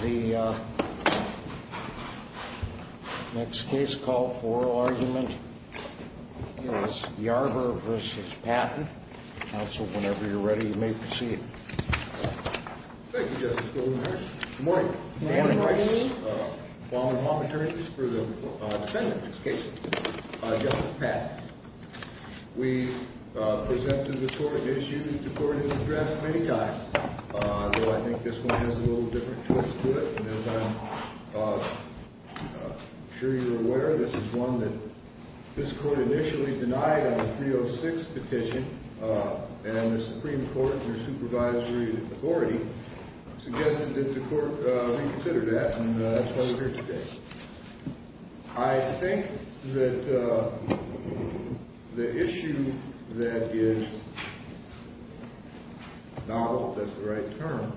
The next case called for oral argument is Yarber v. Patton. Counsel, whenever you are ready, you may proceed. Thank you, Justice Goldenhurst. Good morning. Good morning. Name, please? Walden Hall, attorneys, for the defendant in this case, Justice Patton. We presented this court an issue that the court has addressed many times, though I think this one has a little different twist to it. As I'm sure you're aware, this is one that this court initially denied on the 306 petition, and the Supreme Court, your supervisory authority, suggested that the court reconsider that, and that's why we're here today. I think that the issue that is novel, if that's the right term,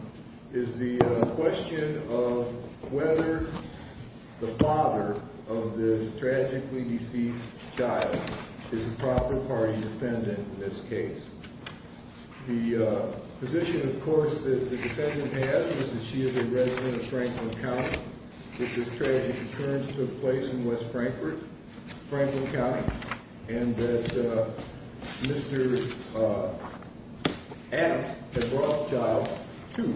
is the question of whether the father of this tragically deceased child is a proper party defendant in this case. The position, of course, that the defendant has is that she is a resident of Franklin County, that this tragic occurrence took place in West Frankfort, Franklin County, and that Mr. Adams had brought the child to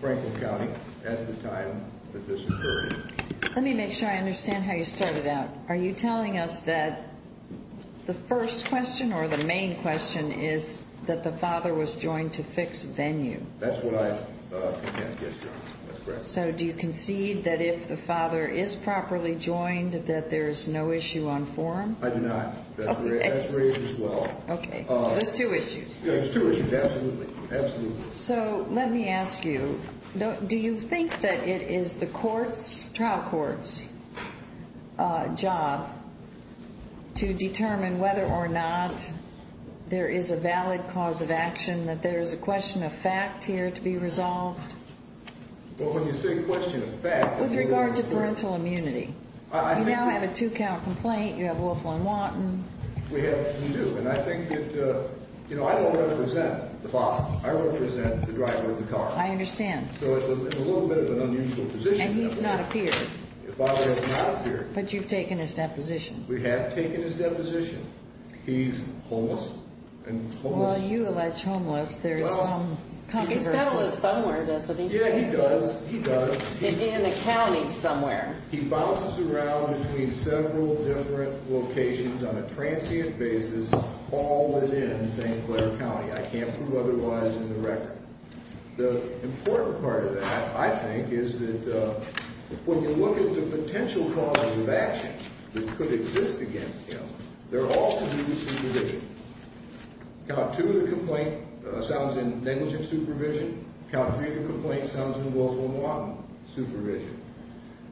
Franklin County at the time that this occurred. Let me make sure I understand how you started out. Are you telling us that the first question, or the main question, is that the father was joined to fix venue? That's what I contend, yes, Your Honor. That's correct. So do you concede that if the father is properly joined, that there's no issue on forum? I do not. That's raised as well. Okay. So there's two issues. There's two issues, absolutely. Absolutely. So let me ask you, do you think that it is the court's, trial court's, job to determine whether or not there is a valid cause of action, that there is a question of fact here to be resolved? Well, when you say question of fact... With regard to parental immunity. I think... You now have a two-count complaint. You have Wolfe v. Watten. We do. And I think that, you know, I don't represent the father. I represent the driver of the car. I understand. So it's a little bit of an unusual position. And he's not appeared. The father has not appeared. But you've taken his deposition. We have taken his deposition. He's homeless. Well, you allege homeless. There is some controversy. He's got to live somewhere, doesn't he? Yeah, he does. He does. In a county somewhere. He bounces around between several different locations on a transient basis, all within St. Clair County. I can't prove otherwise in the record. The important part of that, I think, is that when you look at the potential causes of action that could exist against him, they're all to do with supervision. Count two of the complaint sounds in negligent supervision. Count three of the complaint sounds in Wolfe v. Watten supervision.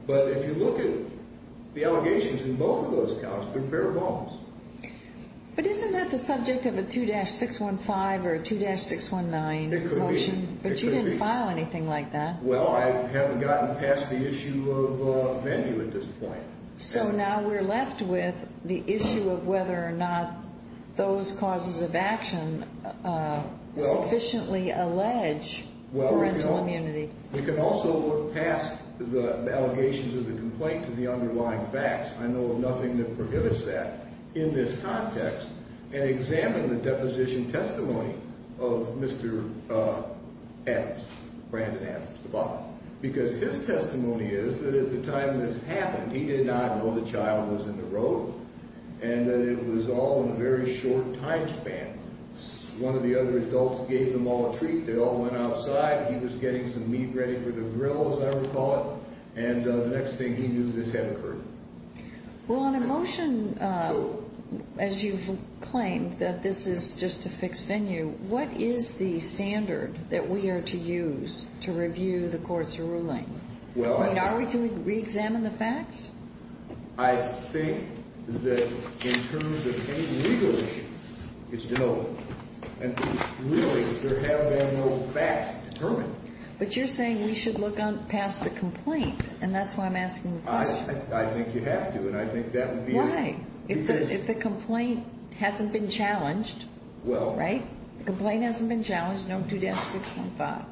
But if you look at the allegations in both of those counts, they're bare bones. But isn't that the subject of a 2-615 or a 2-619 motion? It could be. But you didn't file anything like that. Well, I haven't gotten past the issue of venue at this point. So now we're left with the issue of whether or not those causes of action sufficiently allege parental immunity. We can also look past the allegations of the complaint to the underlying facts. I know of nothing that prohibits that in this context and examine the deposition testimony of Mr. Adams, Brandon Adams, the father. Because his testimony is that at the time this happened, he did not know the child was in the road and that it was all in a very short time span. One of the other adults gave them all a treat. They all went outside. He was getting some meat ready for the grill, as I recall it. And the next thing he knew, this had occurred. Well, on a motion, as you've claimed that this is just a fixed venue, what is the standard that we are to use to review the court's ruling? I mean, are we to reexamine the facts? I think that in terms of any legal issue, it's deliberate. And really, there have been no facts determined. But you're saying we should look past the complaint. And that's why I'm asking the question. I think you have to. And I think that would be a reason. Why? If the complaint hasn't been challenged. Well. Right? The complaint hasn't been challenged. No 2-615.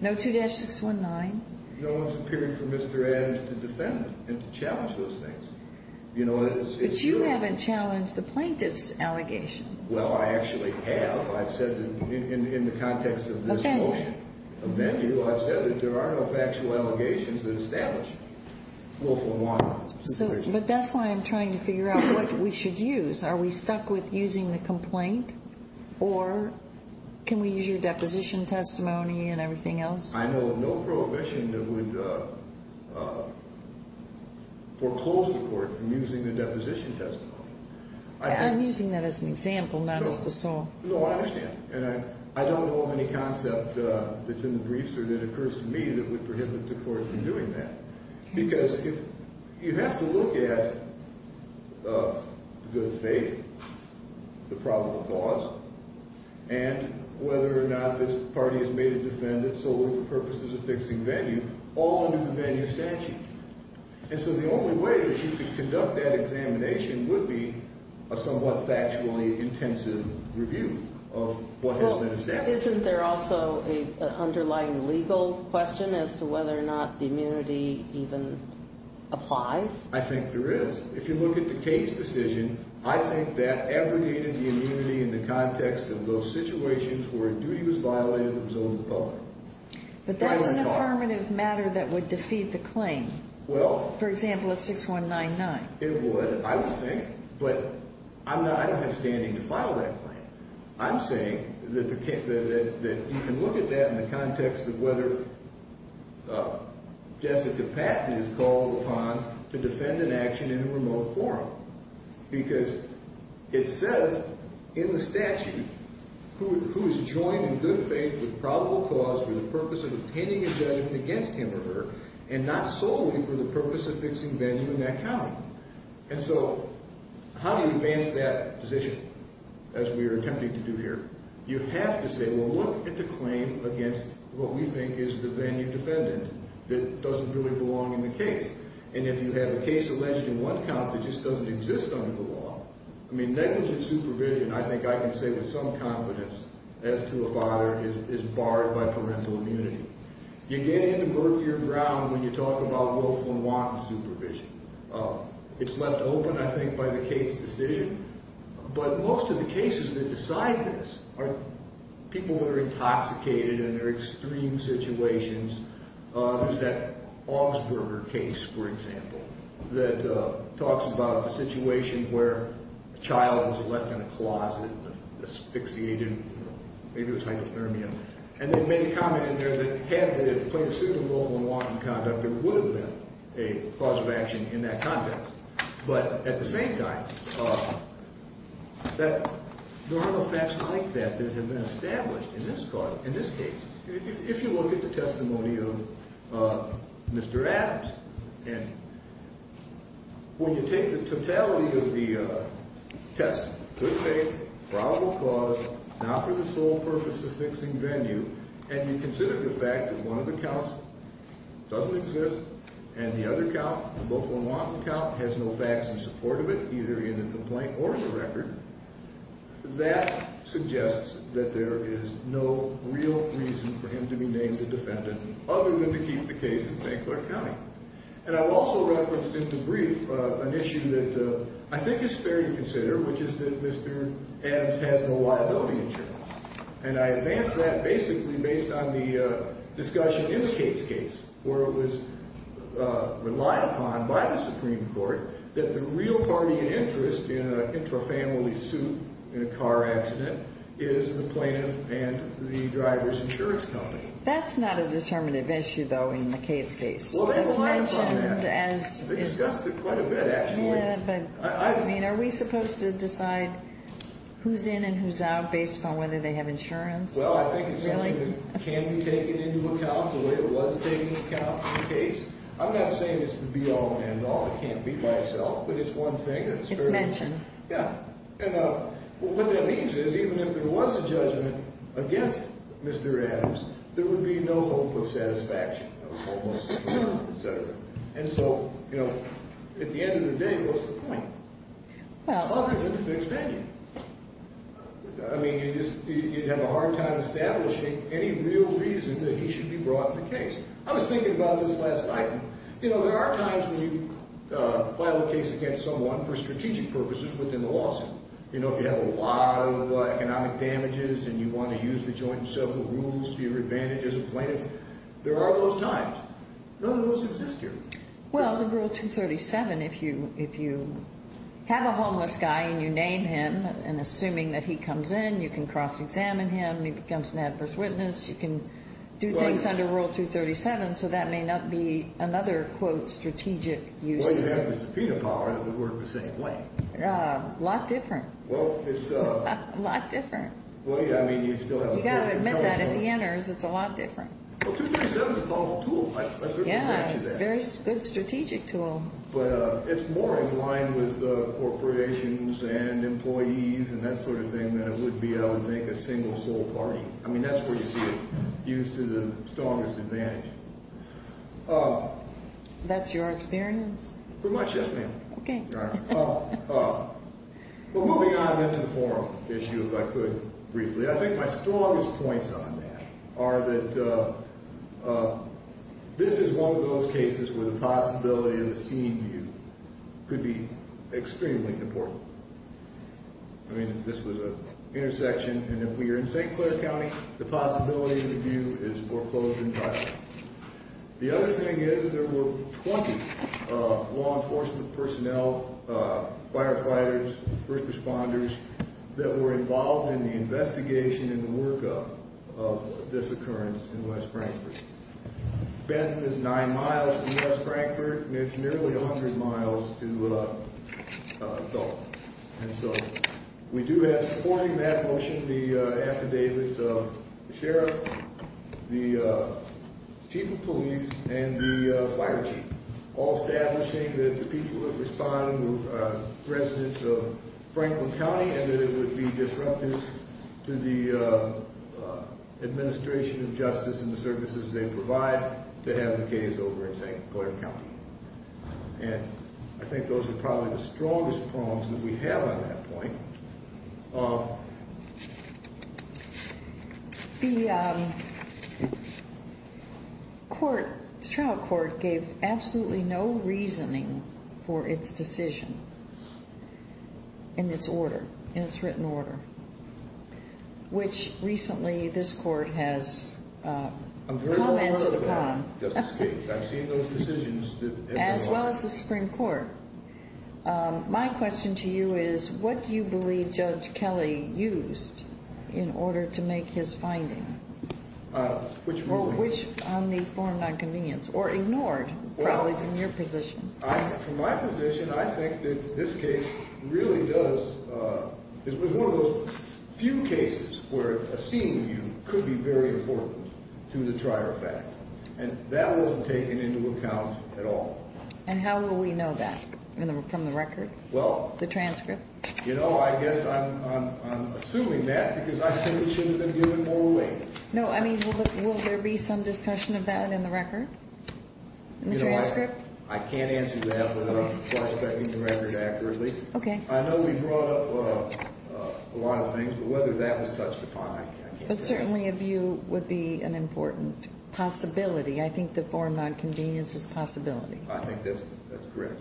No 2-619. You know, it's a period for Mr. Adams to defend it and to challenge those things. But you haven't challenged the plaintiff's allegation. Well, I actually have. I've said that in the context of this motion. A venue. A venue. I've said that there are no factual allegations that establish it. Well, for one. But that's why I'm trying to figure out what we should use. Are we stuck with using the complaint? Or can we use your deposition testimony and everything else? I know of no prohibition that would foreclose the court from using the deposition testimony. I'm using that as an example, not as the sole. No, I understand. And I don't know of any concept that's in the briefs or that occurs to me that would prohibit the court from doing that. Because you have to look at good faith, the probable cause, and whether or not this party has made a defendant solely for purposes of fixing venue. All under the venue statute. And so the only way that you could conduct that examination would be a somewhat factually intensive review of what has been established. Isn't there also an underlying legal question as to whether or not the immunity even applies? I think there is. If you look at the case decision, I think that abrogated the immunity in the context of those situations where a duty was violated that was over the public. But that's an affirmative matter that would defeat the claim. Well. For example, a 6199. It would, I would think. But I don't have standing to file that claim. I'm saying that you can look at that in the context of whether Jessica Patton is called upon to defend an action in a remote forum. Because it says in the statute who is joined in good faith with probable cause for the purpose of obtaining a judgment against him or her and not solely for the purpose of fixing venue in that county. And so how do you advance that position as we are attempting to do here? You have to say, well, look at the claim against what we think is the venue defendant that doesn't really belong in the case. And if you have a case alleged in one count that just doesn't exist under the law, I mean, negligent supervision, I think I can say with some confidence, as to a father, is barred by parental immunity. You get into murkier ground when you talk about willful and wanton supervision. It's left open, I think, by the case decision. But most of the cases that decide this are people who are intoxicated in their extreme situations. There's that Augsburger case, for example, that talks about a situation where a child was left in a closet asphyxiated. Maybe it was hypothermia. And they made a comment in there that had the plaintiff sued him for willful and wanton conduct, there would have been a cause of action in that context. But at the same time, there are no facts like that that have been established in this case. If you look at the testimony of Mr. Adams, and when you take the totality of the testimony, good faith, probable cause, not for the sole purpose of fixing venue, and you consider the fact that one of the counts doesn't exist and the other count, the willful and wanton count, has no facts in support of it, either in the complaint or in the record, that suggests that there is no real reason for him to be named a defendant other than to keep the case in St. Clair County. And I've also referenced in the brief an issue that I think is fair to consider, which is that Mr. Adams has no liability insurance. And I advance that basically based on the discussion in the case case where it was relied upon by the Supreme Court that the real party in interest in an intrafamily suit in a car accident is the plaintiff and the driver's insurance company. That's not a determinative issue, though, in the case case. It's mentioned as... They discussed it quite a bit, actually. I mean, are we supposed to decide who's in and who's out based upon whether they have insurance? Well, I think it's something that can be taken into account the way it was taken into account in the case. I'm not saying it's the be-all and end-all. It can't be by itself, but it's one thing. It's mentioned. Yeah. And what that means is even if there was a judgment against Mr. Adams, there would be no hope of satisfaction. And so, you know, at the end of the day, what's the point? Well... It's longer than the fixed venue. I mean, you'd have a hard time establishing any real reason that he should be brought in the case. I was thinking about this last night. You know, there are times when you file a case against someone for strategic purposes within the lawsuit. You know, if you have a lot of economic damages and you want to use the joint and several rules to your advantage as a plaintiff, there are those times. None of those exist here. Well, the Rule 237, if you have a homeless guy and you name him, and assuming that he comes in, you can cross-examine him. He becomes an adverse witness. You can do things under Rule 237, so that may not be another, quote, strategic use. Well, you have the subpoena power that would work the same way. A lot different. Well, it's... A lot different. Well, yeah, I mean, you still have... You've got to admit that if he enters, it's a lot different. Well, 237 is a powerful tool. Yeah, it's a very good strategic tool. But it's more in line with corporations and employees and that sort of thing than it would be, I would think, a single sole party. I mean, that's where you see it used to the strongest advantage. That's your experience? Pretty much, yes, ma'am. Okay. Well, moving on into the forum issue, if I could briefly. I think my strongest points on that are that this is one of those cases where the possibility of a scene view could be extremely important. I mean, this was an intersection, and if we are in St. Clair County, the possibility of a view is foreclosed entirely. The other thing is there were 20 law enforcement personnel, firefighters, first responders, that were involved in the investigation and the workup of this occurrence in West Frankfort. Benton is nine miles from West Frankfort, and it's nearly 100 miles to Dulles. And so we do have supporting that motion the affidavits of the sheriff, the chief of police, and the fire chief, all establishing that the people that respond were residents of Franklin County and that it would be disruptive to the administration of justice and the services they provide to have the case over in St. Clair County. And I think those are probably the strongest problems that we have on that point. The trial court gave absolutely no reasoning for its decision in its order, in its written order, which recently this court has commented upon. I've seen those decisions. As well as the Supreme Court. My question to you is, what do you believe Judge Kelly used in order to make his finding? Which one? Which on the form of nonconvenience, or ignored, probably from your position. From my position, I think that this case really does, it was one of those few cases where a scene view could be very important to the trier fact. And that wasn't taken into account at all. And how will we know that? From the record? Well. The transcript? You know, I guess I'm assuming that because I think it should have been given more weight. No, I mean, will there be some discussion of that in the record? In the transcript? I can't answer that without prospecting the record accurately. Okay. I know we brought up a lot of things, but whether that was touched upon, I can't say. Certainly a view would be an important possibility. I think the form of nonconvenience is a possibility. I think that's correct.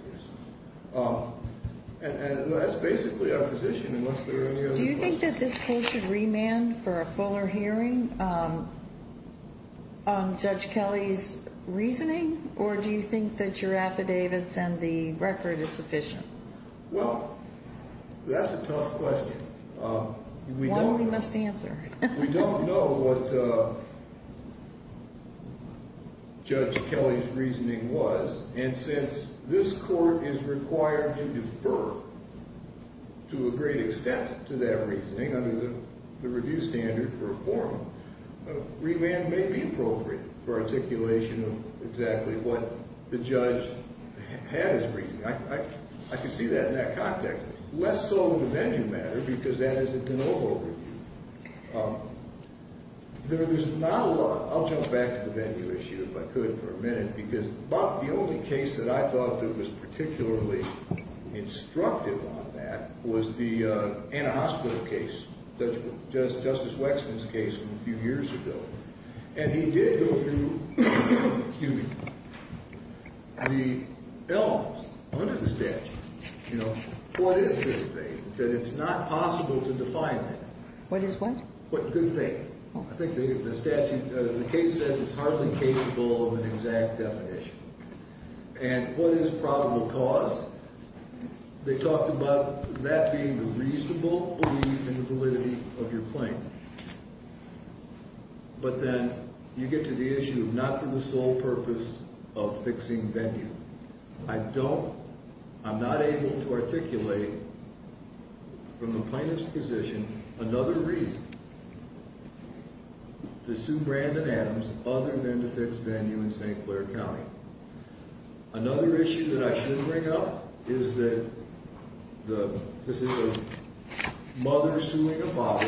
And that's basically our position, unless there are any other questions. Do you think that this court should remand for a fuller hearing on Judge Kelly's reasoning? Or do you think that your affidavits and the record is sufficient? Well, that's a tough question. One we must answer. We don't know what Judge Kelly's reasoning was, and since this court is required to defer to a great extent to that reasoning under the review standard for a forum, remand may be appropriate for articulation of exactly what the judge had as reasoning. I can see that in that context. Less so in the venue matter, because that is a de novo review. There is not a lot. I'll jump back to the venue issue if I could for a minute, because the only case that I thought that was particularly instructive on that was the antihospital case, Justice Wexton's case from a few years ago. And he did go through the elements under the statute. You know, what is good faith? He said it's not possible to define that. What is what? Good faith. I think the statute, the case says it's hardly capable of an exact definition. And what is probable cause? They talked about that being the reasonable belief in the validity of your claim. But then you get to the issue of not being the sole purpose of fixing venue. I'm not able to articulate from the plaintiff's position another reason to sue Brandon Adams other than to fix venue in St. Clair County. Another issue that I should bring up is that this is a mother suing a father,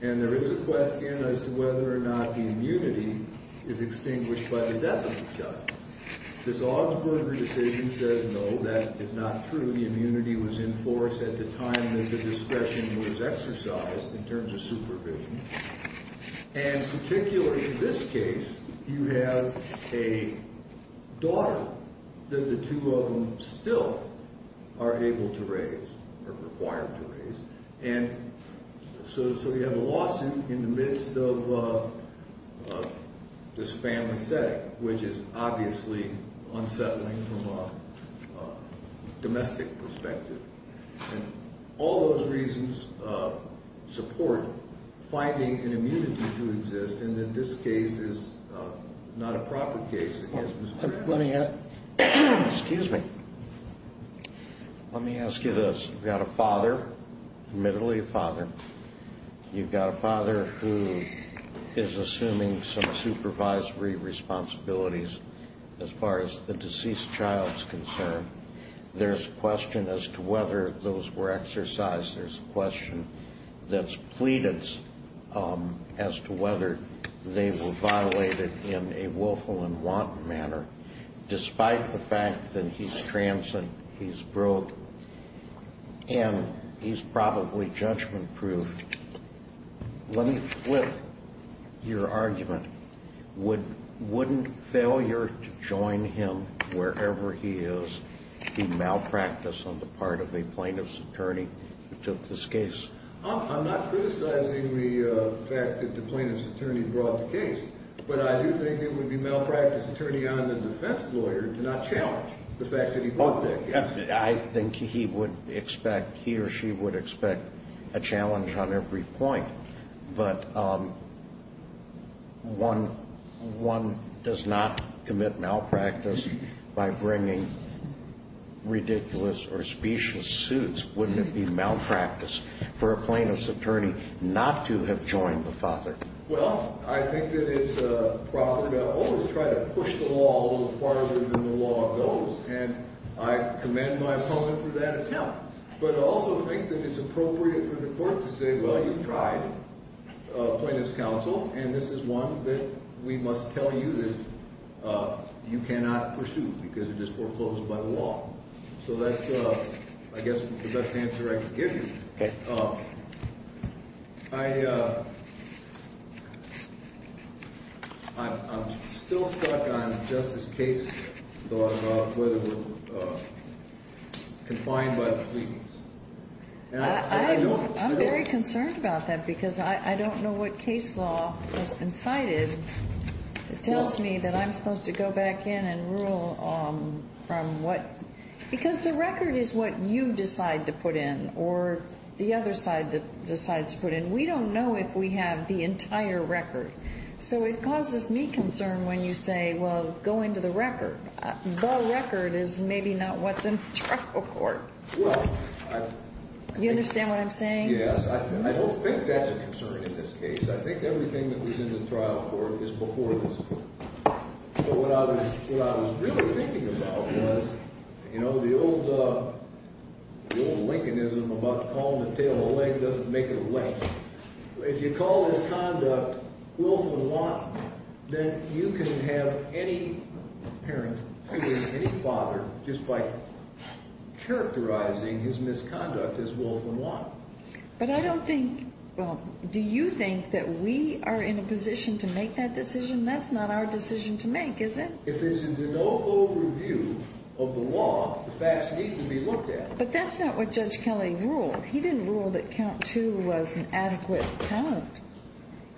and there is a question as to whether or not the immunity is extinguished by the death of the child. This Augsburg decision says no. That is not true. The immunity was in force at the time that the discretion was exercised in terms of supervision. And particularly in this case, you have a daughter that the two of them still are able to raise or required to raise. And so you have a lawsuit in the midst of this family setting, which is obviously unsettling from a domestic perspective. And all those reasons support finding an immunity to exist, and that this case is not a proper case. Let me ask you this. You've got a father, admittedly a father. You've got a father who is assuming some supervisory responsibilities as far as the deceased child is concerned. There's a question as to whether those were exercised. There's a question that's pleaded as to whether they were violated in a willful and want manner. Despite the fact that he's transient, he's broke, and he's probably judgment-proof, let me flip your argument. Wouldn't failure to join him wherever he is be malpractice on the part of a plaintiff's attorney who took this case? I'm not criticizing the fact that the plaintiff's attorney brought the case, but I do think it would be malpractice attorney on the defense lawyer to not challenge the fact that he brought the case. I think he would expect, he or she would expect a challenge on every point. But one does not commit malpractice by bringing ridiculous or specious suits. Wouldn't it be malpractice for a plaintiff's attorney not to have joined the father? Well, I think that it's proper to always try to push the law a little farther than the law goes, and I commend my opponent for that attempt. But I also think that it's appropriate for the court to say, well, you've tried plaintiff's counsel, and this is one that we must tell you that you cannot pursue because it is foreclosed by the law. So that's, I guess, the best answer I can give you. I'm still stuck on Justice Case's thought about whether we're confined by the pleadings. I'm very concerned about that because I don't know what case law has been cited that tells me that I'm supposed to go back in and rule from what, because the record is what you decide to put in or the other side decides to put in. We don't know if we have the entire record. So it causes me concern when you say, well, go into the record. The record is maybe not what's in the trial court. You understand what I'm saying? Yes. I don't think that's a concern in this case. I think everything that was in the trial court is before this. But what I was really thinking about was, you know, the old Lincolnism about calling the tail a leg doesn't make it a leg. If you call this conduct willful and lawful, then you can have any parent, any father, just by characterizing his misconduct as willful and lawful. But I don't think, well, do you think that we are in a position to make that decision? That's not our decision to make, is it? If there's no overview of the law, the facts need to be looked at. But that's not what Judge Kelly ruled. He didn't rule that count two was an adequate parent.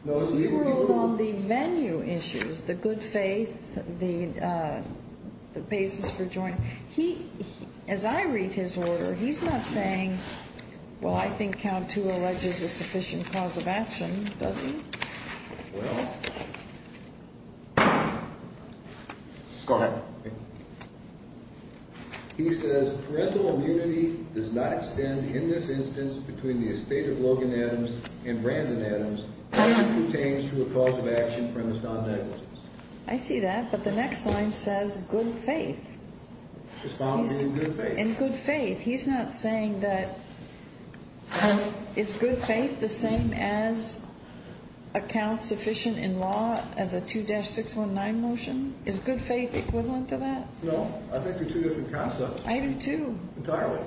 He ruled on the venue issues, the good faith, the basis for joining. As I read his order, he's not saying, well, I think count two alleges a sufficient cause of action, does he? Well, go ahead. He says parental immunity does not extend in this instance between the estate of Logan Adams and Brandon Adams, unless it pertains to a cause of action premise non-negligence. I see that, but the next line says good faith. Responding to good faith. He's not saying that, well, is good faith the same as a count sufficient in law as a 2-619 motion? Is good faith equivalent to that? No. I think they're two different concepts. I do, too. Entirely.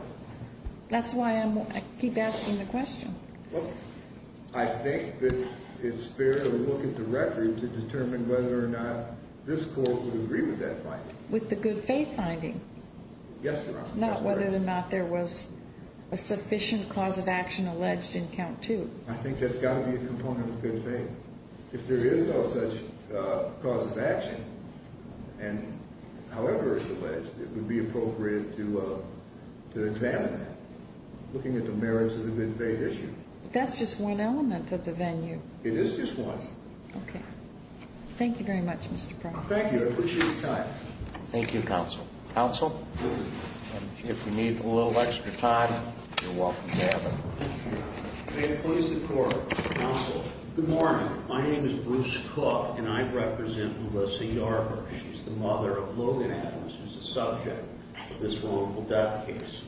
That's why I keep asking the question. Well, I think that it's fair to look at the record to determine whether or not this court would agree with that finding. With the good faith finding? Yes, Your Honor. Not whether or not there was a sufficient cause of action alleged in count two. I think that's got to be a component of good faith. If there is no such cause of action, and however it's alleged, it would be appropriate to examine that, looking at the merits of the good faith issue. That's just one element of the venue. It is just one. Okay. Thank you very much, Mr. Proctor. Thank you. I appreciate your time. Thank you, counsel. If you need a little extra time, you're welcome to have it. May it please the Court. Counsel. Good morning. My name is Bruce Cook, and I represent Melissa Yarber. She's the mother of Logan Adams, who's the subject of this wrongful death case.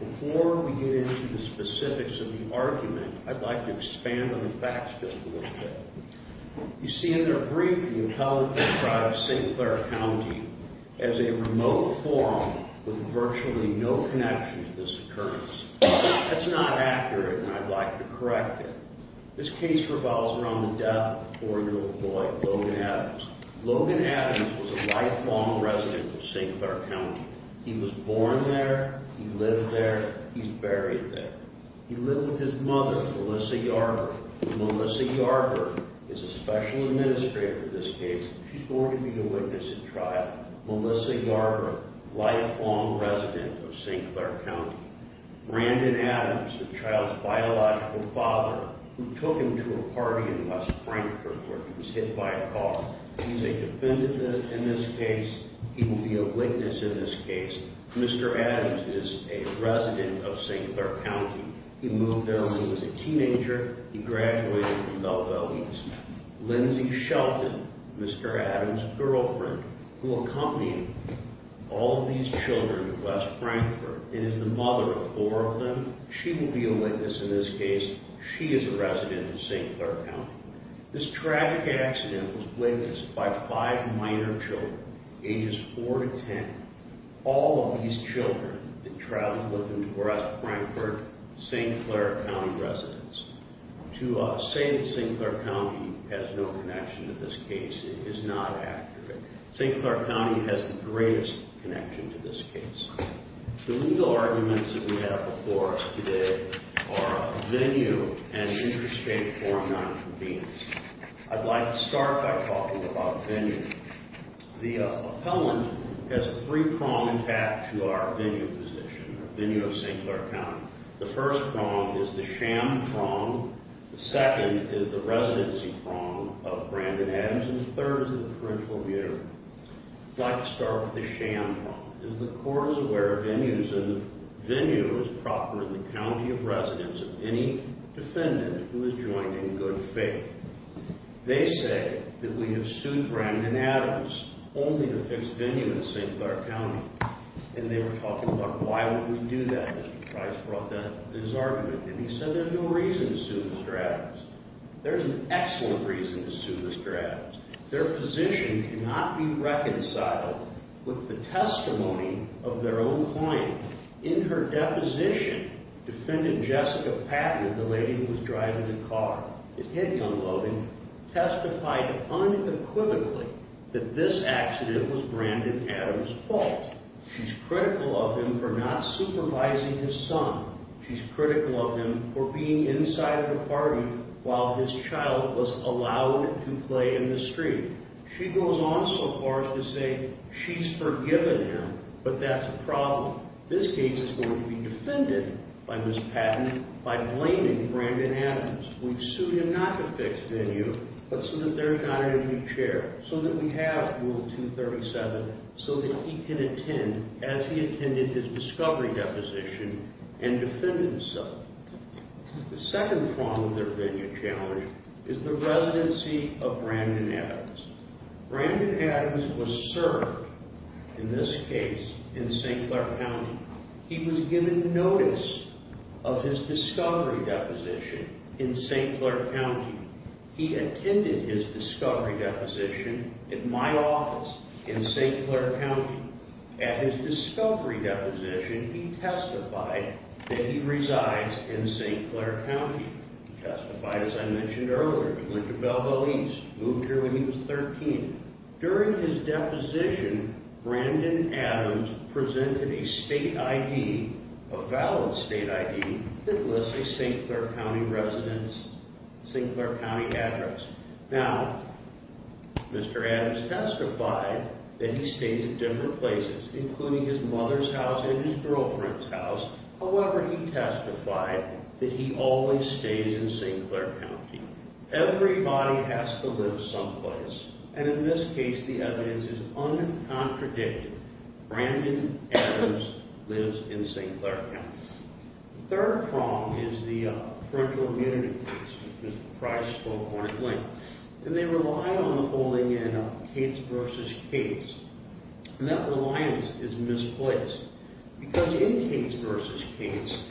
Before we get into the specifics of the argument, I'd like to expand on the facts just a little bit. You see in their brief, the appellant describes St. Clair County as a remote forum with virtually no connection to this occurrence. That's not accurate, and I'd like to correct it. This case revolves around the death of a four-year-old boy, Logan Adams. Logan Adams was a lifelong resident of St. Clair County. He was born there. He lived there. He's buried there. He lived with his mother, Melissa Yarber. Melissa Yarber is a special administrator in this case. She's going to be the witness at trial. Melissa Yarber, lifelong resident of St. Clair County. Brandon Adams, the child's biological father, who took him to a party in West Frankfort where he was hit by a car. He's a defendant in this case. He will be a witness in this case. Mr. Adams is a resident of St. Clair County. He moved there when he was a teenager. He graduated from Belleville East. Lindsey Shelton, Mr. Adams' girlfriend, who accompanied all of these children to West Frankfort and is the mother of four of them, she will be a witness in this case. She is a resident of St. Clair County. This tragic accident was witnessed by five minor children, ages 4 to 10, all of these children that traveled with them to West Frankfort, St. Clair County residents. To say that St. Clair County has no connection to this case is not accurate. St. Clair County has the greatest connection to this case. The legal arguments that we have before us today are venue and interstate forum nonconvenience. I'd like to start by talking about venue. The appellant has three prongs attached to our venue position, the venue of St. Clair County. The first prong is the sham prong. The second is the residency prong of Brandon Adams. And the third is the parental mutiny. I'd like to start with the sham prong. The court is aware of venues and the venue is proper in the county of residence of any defendant who is joined in good faith. They say that we have sued Brandon Adams only to fix venue in St. Clair County. And they were talking about why would we do that. Mr. Price brought that to his argument. And he said there's no reason to sue Mr. Adams. There's an excellent reason to sue Mr. Adams. Their position cannot be reconciled with the testimony of their own client. In her deposition, Defendant Jessica Patton, the lady who was driving the car, the head young loading, testified unequivocally that this accident was Brandon Adams' fault. She's critical of him for not supervising his son. She's critical of him for being inside of the party while his child was allowed to play in the street. She goes on so far as to say she's forgiven him, but that's a problem. This case is going to be defended by Ms. Patton by blaming Brandon Adams. We've sued him not to fix venue, but so that there's not a new chair. So that we have Rule 237 so that he can attend as he attended his discovery deposition and defended himself. The second problem with their venue challenge is the residency of Brandon Adams. Brandon Adams was served in this case in St. Clair County. He was given notice of his discovery deposition in St. Clair County. He attended his discovery deposition in my office in St. Clair County. At his discovery deposition, he testified that he resides in St. Clair County. He testified, as I mentioned earlier, to Lincoln Belleville East. He moved here when he was 13. During his deposition, Brandon Adams presented a state ID, a valid state ID, that lists a St. Clair County residence, St. Clair County address. Now, Mr. Adams testified that he stays at different places, including his mother's house and his girlfriend's house. However, he testified that he always stays in St. Clair County. Everybody has to live someplace. And in this case, the evidence is uncontradictive. Brandon Adams lives in St. Clair County. The third problem is the parental immunity case, which Mr. Price spoke on at length. And they rely on holding in a Cates v. Cates. And that reliance is misplaced. Because in Cates v. Cates,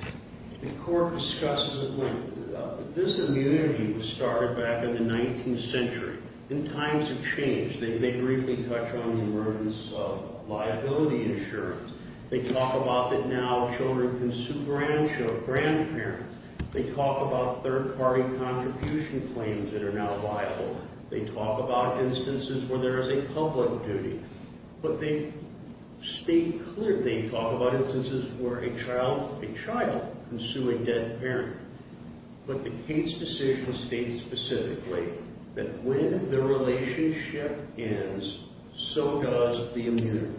the court discusses a point. This immunity was started back in the 19th century. And times have changed. They briefly touch on the emergence of liability insurance. They talk about that now children can sue grandchildren, grandparents. They talk about third-party contribution claims that are now viable. They talk about instances where there is a public duty. But they state clearly they talk about instances where a child can sue a dead parent. But the Cates decision states specifically that when the relationship ends, so does the immunity.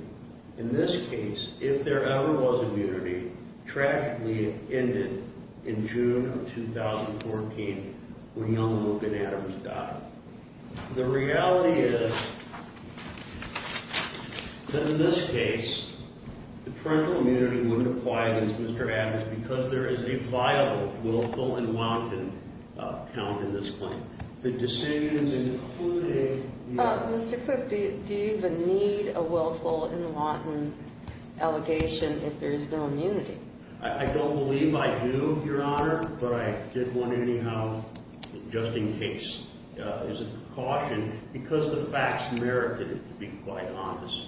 In this case, if there ever was immunity, tragically it ended in June of 2014 when young Logan Adams died. The reality is that in this case, the parental immunity wouldn't apply against Mr. Adams because there is a viable willful and wanton count in this claim. The decision is including the other. Mr. Cook, do you even need a willful and wanton allegation if there is no immunity? I don't believe I do, Your Honor, but I did want to anyhow, just in case, as a precaution because the facts merited it, to be quite honest,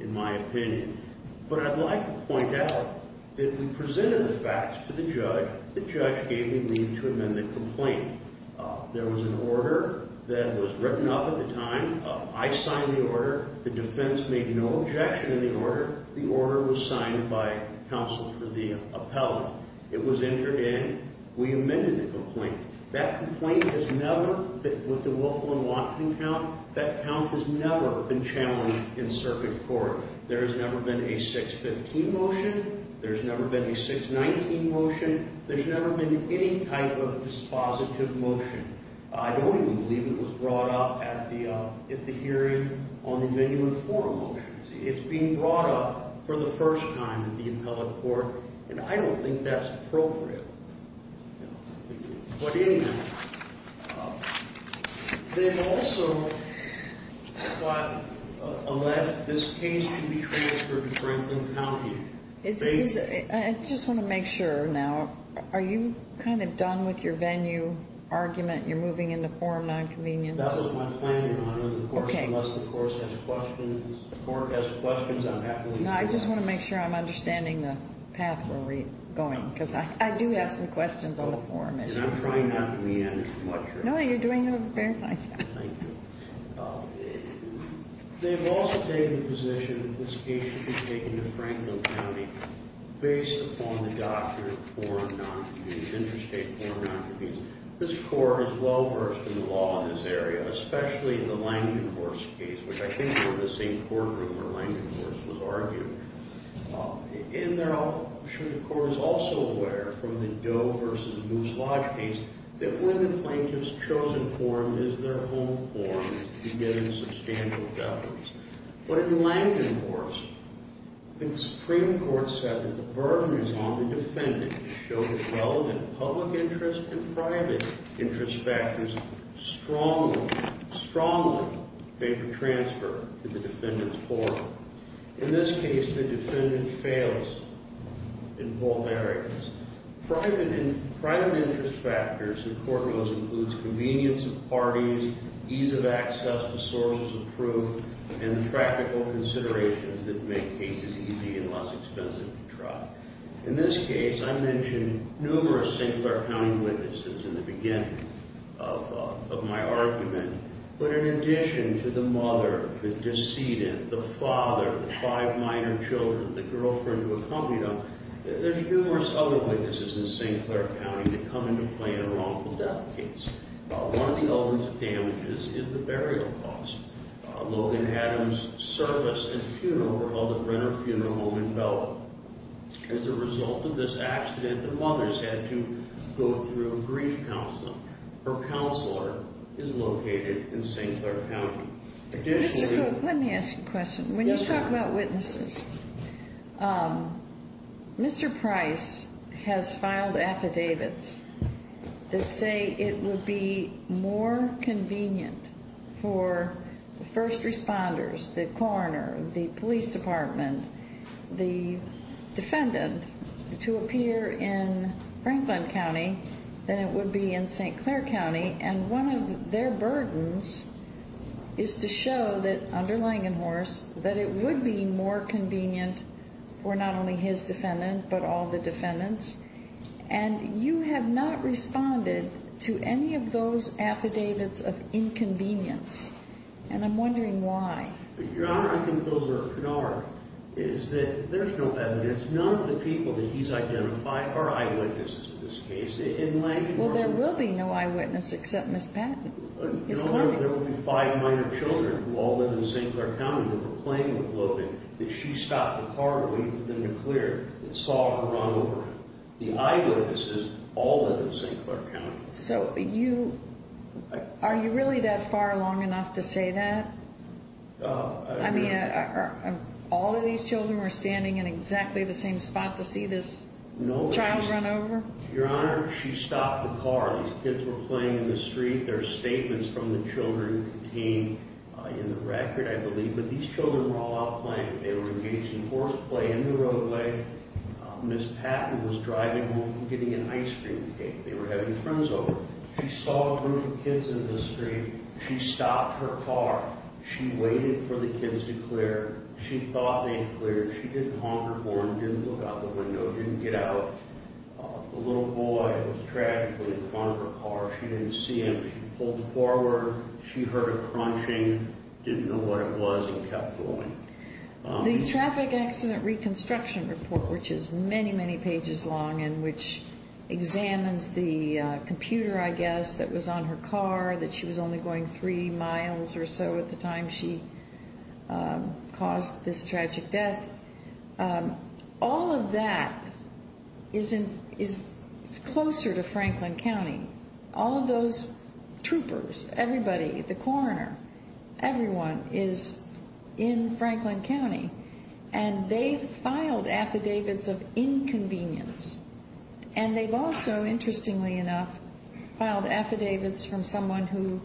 in my opinion. But I'd like to point out that we presented the facts to the judge. The judge gave me the amendment complaint. There was an order that was written up at the time. I signed the order. The defense made no objection to the order. The order was signed by counsel for the appellant. It was entered in. We amended the complaint. That complaint has never, with the willful and wanton count, that count has never been challenged in circuit court. There has never been a 615 motion. There's never been a 619 motion. There's never been any type of dispositive motion. I don't even believe it was brought up at the hearing on the genuine form motion. It's being brought up for the first time in the appellate court, and I don't think that's appropriate. But anyhow, they've also allowed this case to be transferred to Franklin County. I just want to make sure now. Are you kind of done with your venue argument? You're moving into forum nonconvenience? That was my planning on it, of course, unless the court has questions on that. No, I just want to make sure I'm understanding the path we're going, because I do have some questions on the forum issue. And I'm trying not to be an introvert. No, you're doing a very fine job. Thank you. They've also taken the position that this case should be taken to Franklin County based upon the doctrine of forum nonconvenience, interstate forum nonconvenience. This court is well-versed in the law in this area, especially in the Langenhorst case, which I think we're in the same courtroom where Langenhorst was argued. And I'm sure the court is also aware from the Doe v. Moose Lodge case that when the plaintiff's chosen forum is their home forum, you get a substantial deference. But in Langenhorst, the Supreme Court said that the burden is on the defendant to show that relevant public interest and private interest factors strongly make a transfer to the defendant's forum. In this case, the defendant fails in both areas. Private interest factors in court laws includes convenience of parties, ease of access to sources of proof, and the practical considerations that make cases easy and less expensive to try. In this case, I mentioned numerous St. Clair County witnesses in the beginning of my argument. But in addition to the mother, the decedent, the father, the five minor children, the girlfriend who accompanied him, there's numerous other witnesses in St. Clair County that come into play in a wrongful death case. One of the elements of damages is the burial cost. Logan Adams' service and funeral were held at Brenner Funeral Home in Belleville. As a result of this accident, the mother has had to go through a grief counseling. Her counselor is located in St. Clair County. And one of their burdens is to show that, under Langenhorst, that it would be more convenient for not only his defendant but all the defendants. And you have not responded to any of those affidavits of inconvenience. And I'm wondering why. Your Honor, I think those are canard. It is that there's no evidence. None of the people that he's identified are eyewitnesses in this case. In Langenhorst… Well, there will be no eyewitness except Ms. Patton. No, there will be five minor children who all live in St. Clair County that were playing with Logan, that she stopped the car waiting for them to clear, and saw her run over him. The eyewitnesses all live in St. Clair County. So, you… Are you really that far along enough to say that? I mean, are all of these children standing in exactly the same spot to see this child run over? Your Honor, she stopped the car. These kids were playing in the street. There are statements from the children contained in the record, I believe. But these children were all out playing. They were engaged in horseplay in the roadway. Ms. Patton was driving home from getting an ice cream cake. They were having friends over. She saw a group of kids in the street. She stopped her car. She waited for the kids to clear. She thought they had cleared. She didn't honk her horn, didn't look out the window, didn't get out. The little boy was tragically in front of her car. She didn't see him. She pulled forward. She heard a crunching, didn't know what it was, and kept going. The Traffic Accident Reconstruction Report, which is many, many pages long and which examines the computer, I guess, that was on her car, that she was only going three miles or so at the time she caused this tragic death, all of that is closer to Franklin County. All of those troopers, everybody, the coroner, everyone is in Franklin County, and they've filed affidavits of inconvenience. And they've also, interestingly enough, filed affidavits from someone who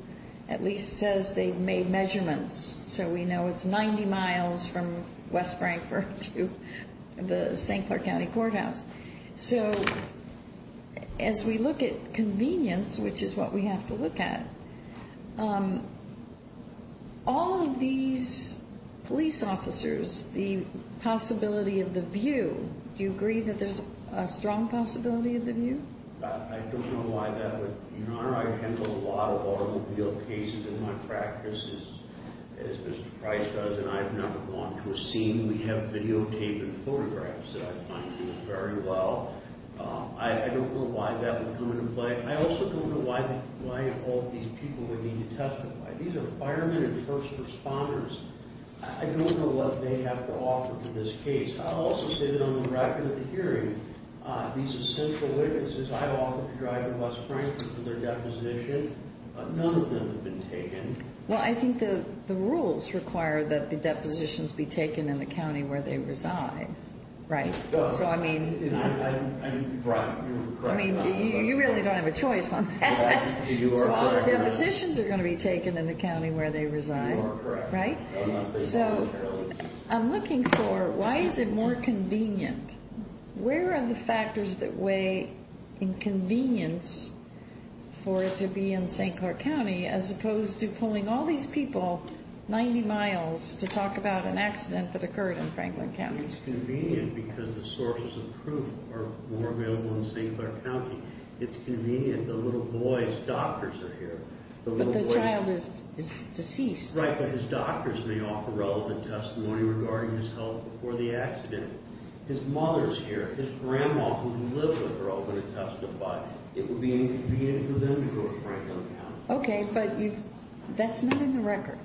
at least says they've made measurements, so we know it's 90 miles from West Frankfort to the St. Clair County Courthouse. So as we look at convenience, which is what we have to look at, all of these police officers, the possibility of the view, do you agree that there's a strong possibility of the view? I don't know why that would be. Your Honor, I've handled a lot of automobile cases in my practice, as Mr. Price does, and I've never gone to a scene. We have videotape and photographs that I find to be very well. I don't know why that would come into play. I also don't know why all these people would need to testify. These are firemen and first responders. I don't know what they have to offer for this case. I'll also say that on the record of the hearing, these essential witnesses, I've offered to drive to West Frankfort for their deposition, but none of them have been taken. Well, I think the rules require that the depositions be taken in the county where they reside, right? So, I mean, you really don't have a choice on that. So all the depositions are going to be taken in the county where they reside, right? So I'm looking for why is it more convenient? Where are the factors that weigh inconvenience for it to be in St. Clair County as opposed to pulling all these people 90 miles to talk about an accident that occurred in Franklin County? It's convenient because the sources of proof are more available in St. Clair County. It's convenient. The little boy's doctors are here. But the child is deceased. Right, but his doctors may offer relevant testimony regarding his health before the accident. His mother is here. His grandma, who lives with her, will testify. It would be inconvenient for them to go to Franklin County. Okay, but that's not in the record.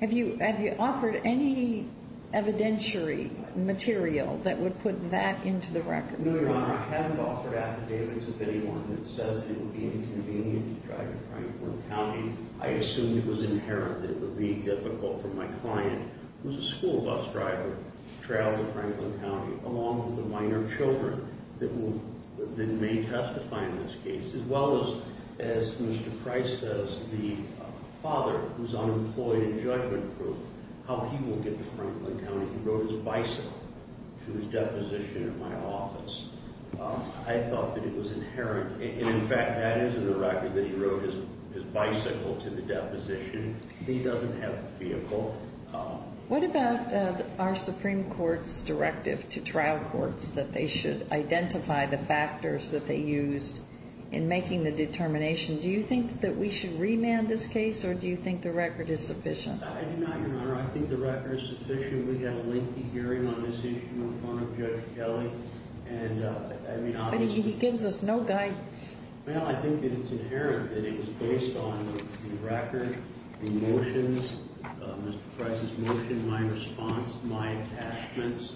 Have you offered any evidentiary material that would put that into the record? No, Your Honor, I haven't offered affidavits of anyone that says it would be inconvenient to drive to Franklin County. I assume it was inherent that it would be difficult for my client, who's a school bus driver, to travel to Franklin County, along with the minor children that may testify in this case, as well as, as Mr. Price says, the father, who's unemployed and judgment-proof, how he will get to Franklin County. He rode his bicycle to his deposition at my office. I thought that it was inherent. And, in fact, that is in the record that he rode his bicycle to the deposition. He doesn't have a vehicle. What about our Supreme Court's directive to trial courts that they should identify the factors that they used in making the determination? Do you think that we should remand this case, or do you think the record is sufficient? I do not, Your Honor. I think the record is sufficient. We had a lengthy hearing on this issue in front of Judge Kelly. But he gives us no guidance. Well, I think that it's inherent that it was based on the record, the motions, Mr. Price's motion, my response, my attachments,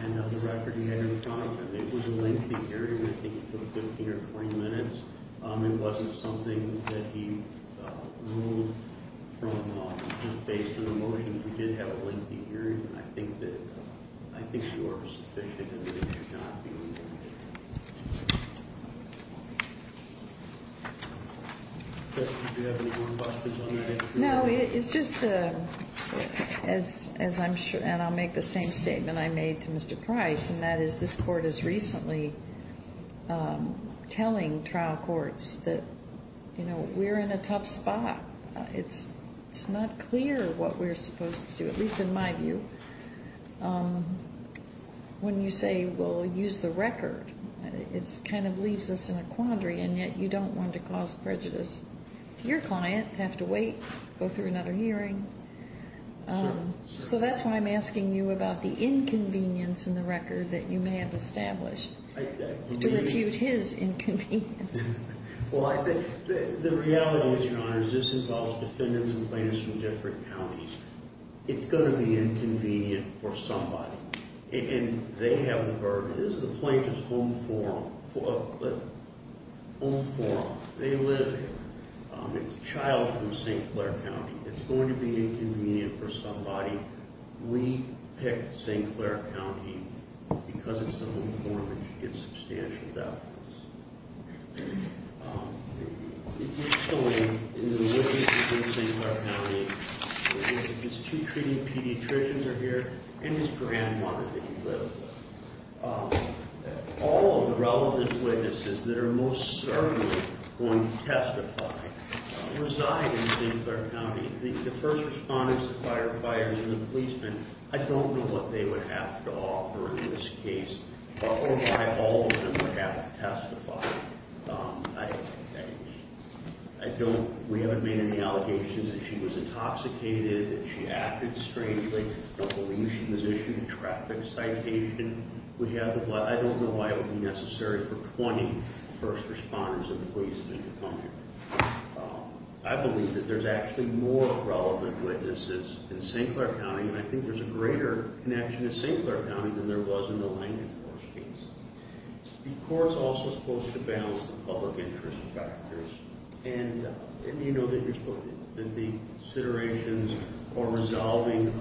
and the record he had in front of him. It was a lengthy hearing. I think it took 15 or 20 minutes. It wasn't something that he ruled from just based on the motion. We did have a lengthy hearing, and I think you are sufficient in that it should not be remanded. Justice, do you have any more questions on the record? No, it's just as I'm sure, and I'll make the same statement I made to Mr. Price, and that is this Court is recently telling trial courts that, you know, we're in a tough spot. It's not clear what we're supposed to do, at least in my view. When you say, well, use the record, it kind of leaves us in a quandary, and yet you don't want to cause prejudice to your client to have to wait, go through another hearing. So that's why I'm asking you about the inconvenience in the record that you may have established to refute his inconvenience. Well, I think the reality is, Your Honor, is this involves defendants and plaintiffs from different counties. It's going to be inconvenient for somebody, and they have the burden. This is the plaintiff's home forum. Home forum, they live here. It's a child from St. Clair County. It's going to be inconvenient for somebody. We pick St. Clair County because it's a home forum, and you get substantial benefits. It is showing in the witnesses in St. Clair County that his two treating pediatricians are here and his grandmother that he lives with. All of the relevant witnesses that are most certainly going to testify reside in St. Clair County. The first respondents, the firefighters and the policemen, I don't know what they would have to offer in this case. I don't know why all of them would have to testify. We haven't made any allegations that she was intoxicated, that she acted strangely. I don't believe she was issued a traffic citation. I don't know why it would be necessary for 20 first responders and policemen to come here. I believe that there's actually more relevant witnesses in St. Clair County, and I think there's a greater connection to St. Clair County than there was in the Langford case. The court's also supposed to balance the public interest factors. And, you know, the considerations for resolving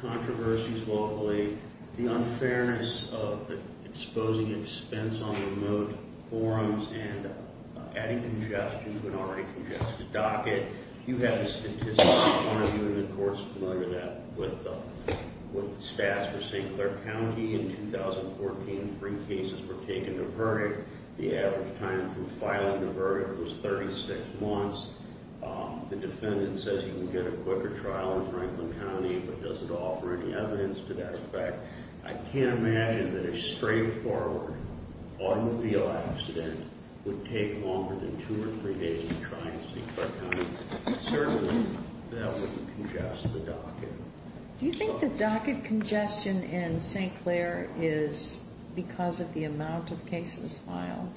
controversies locally, the unfairness of exposing expense on remote forums and adding congestion to an already congested docket. You have a statistic in front of you, and the court's familiar with that, with the stats for St. Clair County. In 2014, three cases were taken to verdict. The average time from filing the verdict was 36 months. The defendant says you can get a quicker trial in Franklin County, but doesn't offer any evidence to that effect. I can't imagine that a straightforward automobile accident would take longer than two or three days to try in St. Clair County. Certainly, that would congest the docket. Do you think the docket congestion in St. Clair is because of the amount of cases filed?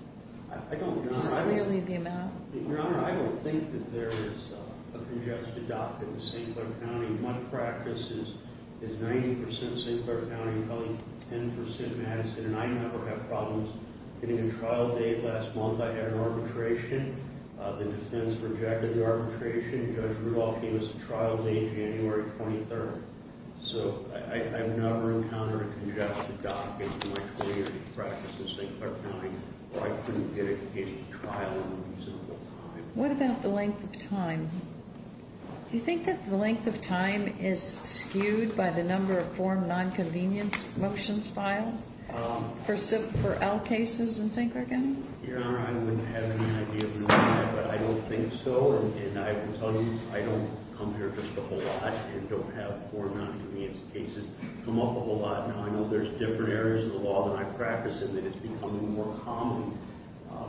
I don't, Your Honor. Just clearly the amount? Your Honor, I don't think that there is a congested docket in St. Clair County. My practice is 90% St. Clair County and only 10% Madison, and I never have problems getting a trial date. Last month, I had an arbitration. The defense rejected the arbitration. Judge Rudolph gave us a trial date, January 23rd. So, I've never encountered a congested docket in my 20-year practice in St. Clair County, or I couldn't get a trial in a reasonable time. What about the length of time? Do you think that the length of time is skewed by the number of form non-convenience motions filed for L cases in St. Clair County? Your Honor, I wouldn't have any idea, but I don't think so, and I can tell you I don't come here just a whole lot and don't have form non-convenience cases come up a whole lot. Now, I know there's different areas of the law that I practice and that it's becoming more common,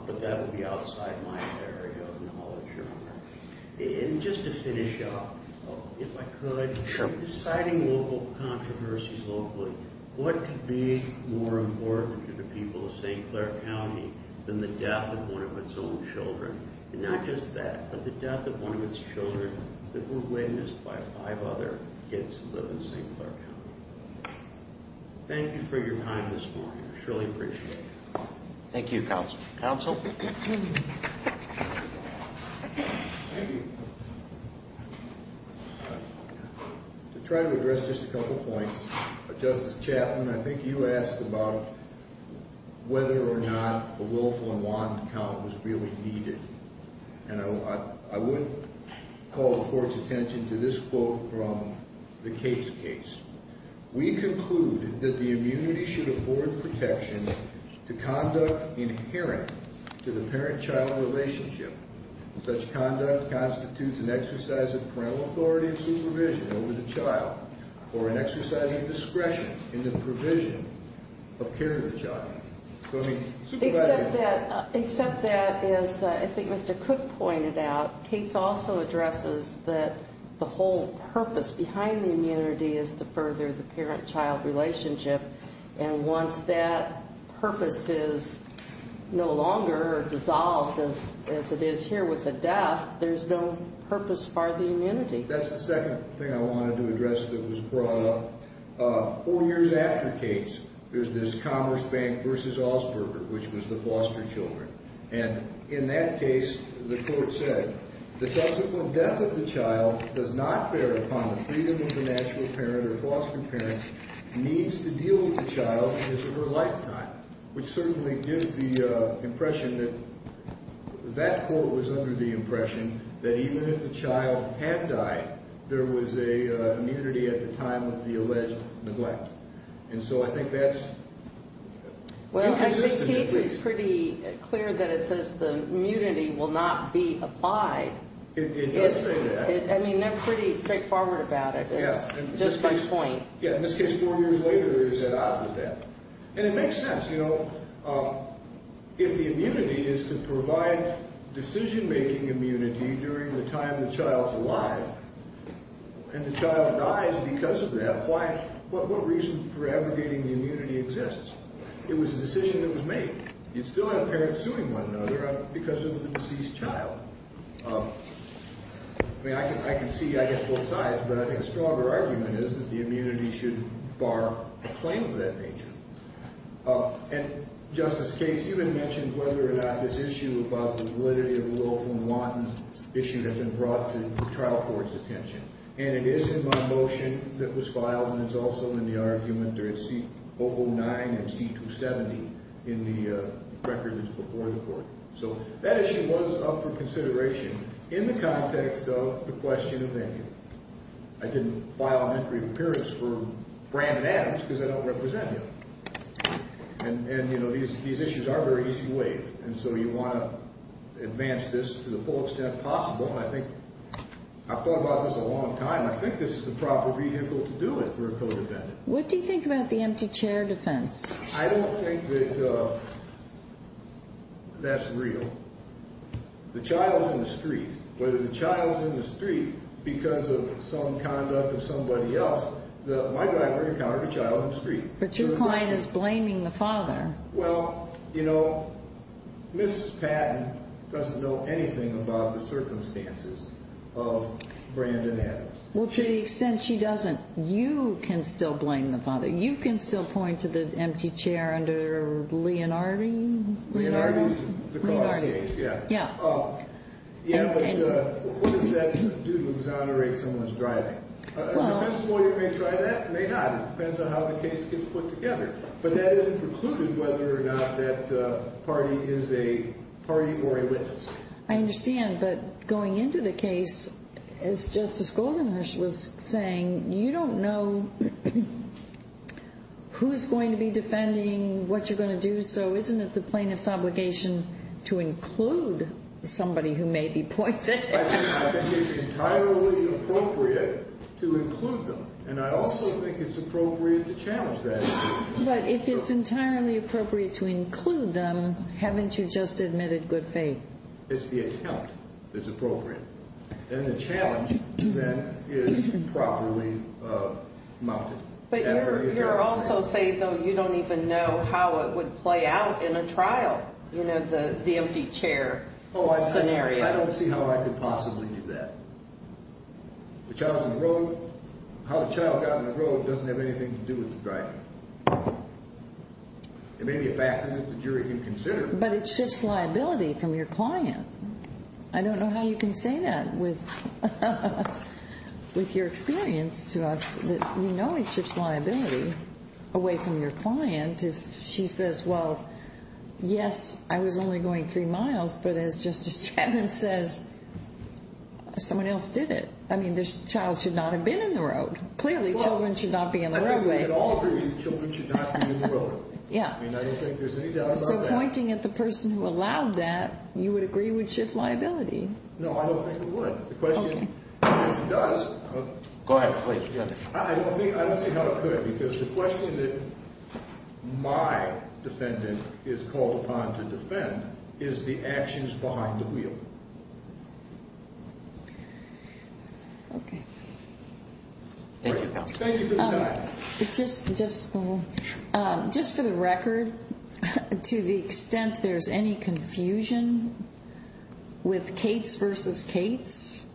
but that would be outside my area of knowledge, Your Honor. And just to finish up, if I could. Sure. In deciding local controversies locally, what could be more important to the people of St. Clair County than the death of one of its own children? And not just that, but the death of one of its children that were witnessed by five other kids who live in St. Clair County. Thank you for your time this morning. I surely appreciate it. Thank you, Counsel. Counsel? Thank you. I'll try to address just a couple points. Justice Chapman, I think you asked about whether or not a willful and wanted account was really needed. And I would call the Court's attention to this quote from the Cates case. We conclude that the immunity should afford protection to conduct inherent to the parent-child relationship. Such conduct constitutes an exercise of parental authority and supervision over the child or an exercise of discretion in the provision of care to the child. Except that, as I think Mr. Cook pointed out, Cates also addresses that the whole purpose behind the immunity is to further the parent-child relationship. And once that purpose is no longer dissolved as it is here with the death, there's no purpose for the immunity. That's the second thing I wanted to address that was brought up. Four years after Cates, there's this Commerce Bank v. Osberger, which was the foster children. And in that case, the Court said, The subsequent death of the child does not bear upon the freedom of the natural parent or foster parent needs to deal with the child as of her lifetime. Which certainly gives the impression that that Court was under the impression that even if the child had died, there was an immunity at the time of the alleged neglect. And so I think that's inconsistent. Well, I think Cates is pretty clear that it says the immunity will not be applied. It does say that. I mean, they're pretty straightforward about it. It's just my point. Yeah, in this case, four years later, it's at odds with that. And it makes sense. You know, if the immunity is to provide decision-making immunity during the time the child's alive and the child dies because of that, what reason for aggregating the immunity exists? It was a decision that was made. You'd still have parents suing one another because of the deceased child. I mean, I can see, I guess, both sides. But I think a stronger argument is that the immunity should bar a claim of that nature. And, Justice Cates, you had mentioned whether or not this issue about the validity of the Wilhelm Wanten issue had been brought to the trial court's attention. And it is in my motion that was filed, and it's also in the argument during C-009 and C-270 in the record that's before the Court. So that issue was up for consideration in the context of the question of immunity. I didn't file an entry of appearance for Brandon Adams because I don't represent him. And, you know, these issues are very easy to waive. And so you want to advance this to the full extent possible. And I think I've thought about this a long time. I think this is the proper vehicle to do it for a co-defendant. What do you think about the empty chair defense? I don't think that that's real. The child's in the street. Whether the child's in the street because of some conduct of somebody else, my driver encountered a child in the street. But your client is blaming the father. Well, you know, Mrs. Patton doesn't know anything about the circumstances of Brandon Adams. Well, to the extent she doesn't, you can still blame the father. You can still point to the empty chair under Leonardi? Leonardi's the cause of the case, yeah. Yeah, but what does that do to exonerate someone's driving? A defense lawyer may try that, may not. It depends on how the case gets put together. But that isn't precluded whether or not that party is a party or a witness. I understand. But going into the case, as Justice Goldenhurst was saying, you don't know who's going to be defending, what you're going to do. So isn't it the plaintiff's obligation to include somebody who may be pointed at? I think it's entirely appropriate to include them. And I also think it's appropriate to challenge that. But if it's entirely appropriate to include them, haven't you just admitted good faith? It's the attempt that's appropriate. And the challenge, then, is properly mounted. But you're also saying, though, you don't even know how it would play out in a trial, you know, the empty chair scenario. I don't see how I could possibly do that. The child's on the road. How the child got on the road doesn't have anything to do with the driving. There may be a factor that the jury can consider. But it shifts liability from your client. I don't know how you can say that with your experience to us that you know it shifts liability away from your client if she says, well, yes, I was only going three miles. But as Justice Chapman says, someone else did it. I mean, this child should not have been in the road. Clearly, children should not be in the road. I mean, we would all agree that children should not be in the road. Yeah. I mean, I don't think there's any doubt about that. So pointing at the person who allowed that, you would agree would shift liability. No, I don't think it would. The question is if it does. Go ahead, please. I don't see how it could because the question that my defendant is called upon to defend is the actions behind the wheel. Okay. Thank you for the time. Just for the record, to the extent there's any confusion with Cates versus Cates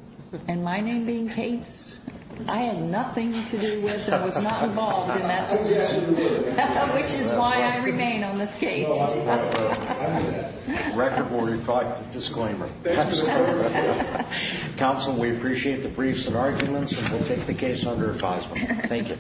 and my name being Cates, I had nothing to do with and was not involved in that decision, which is why I remain on this case. Record warrant and disclaimer. Counsel, we appreciate the briefs and arguments, and we'll take the case under advisement. Thank you.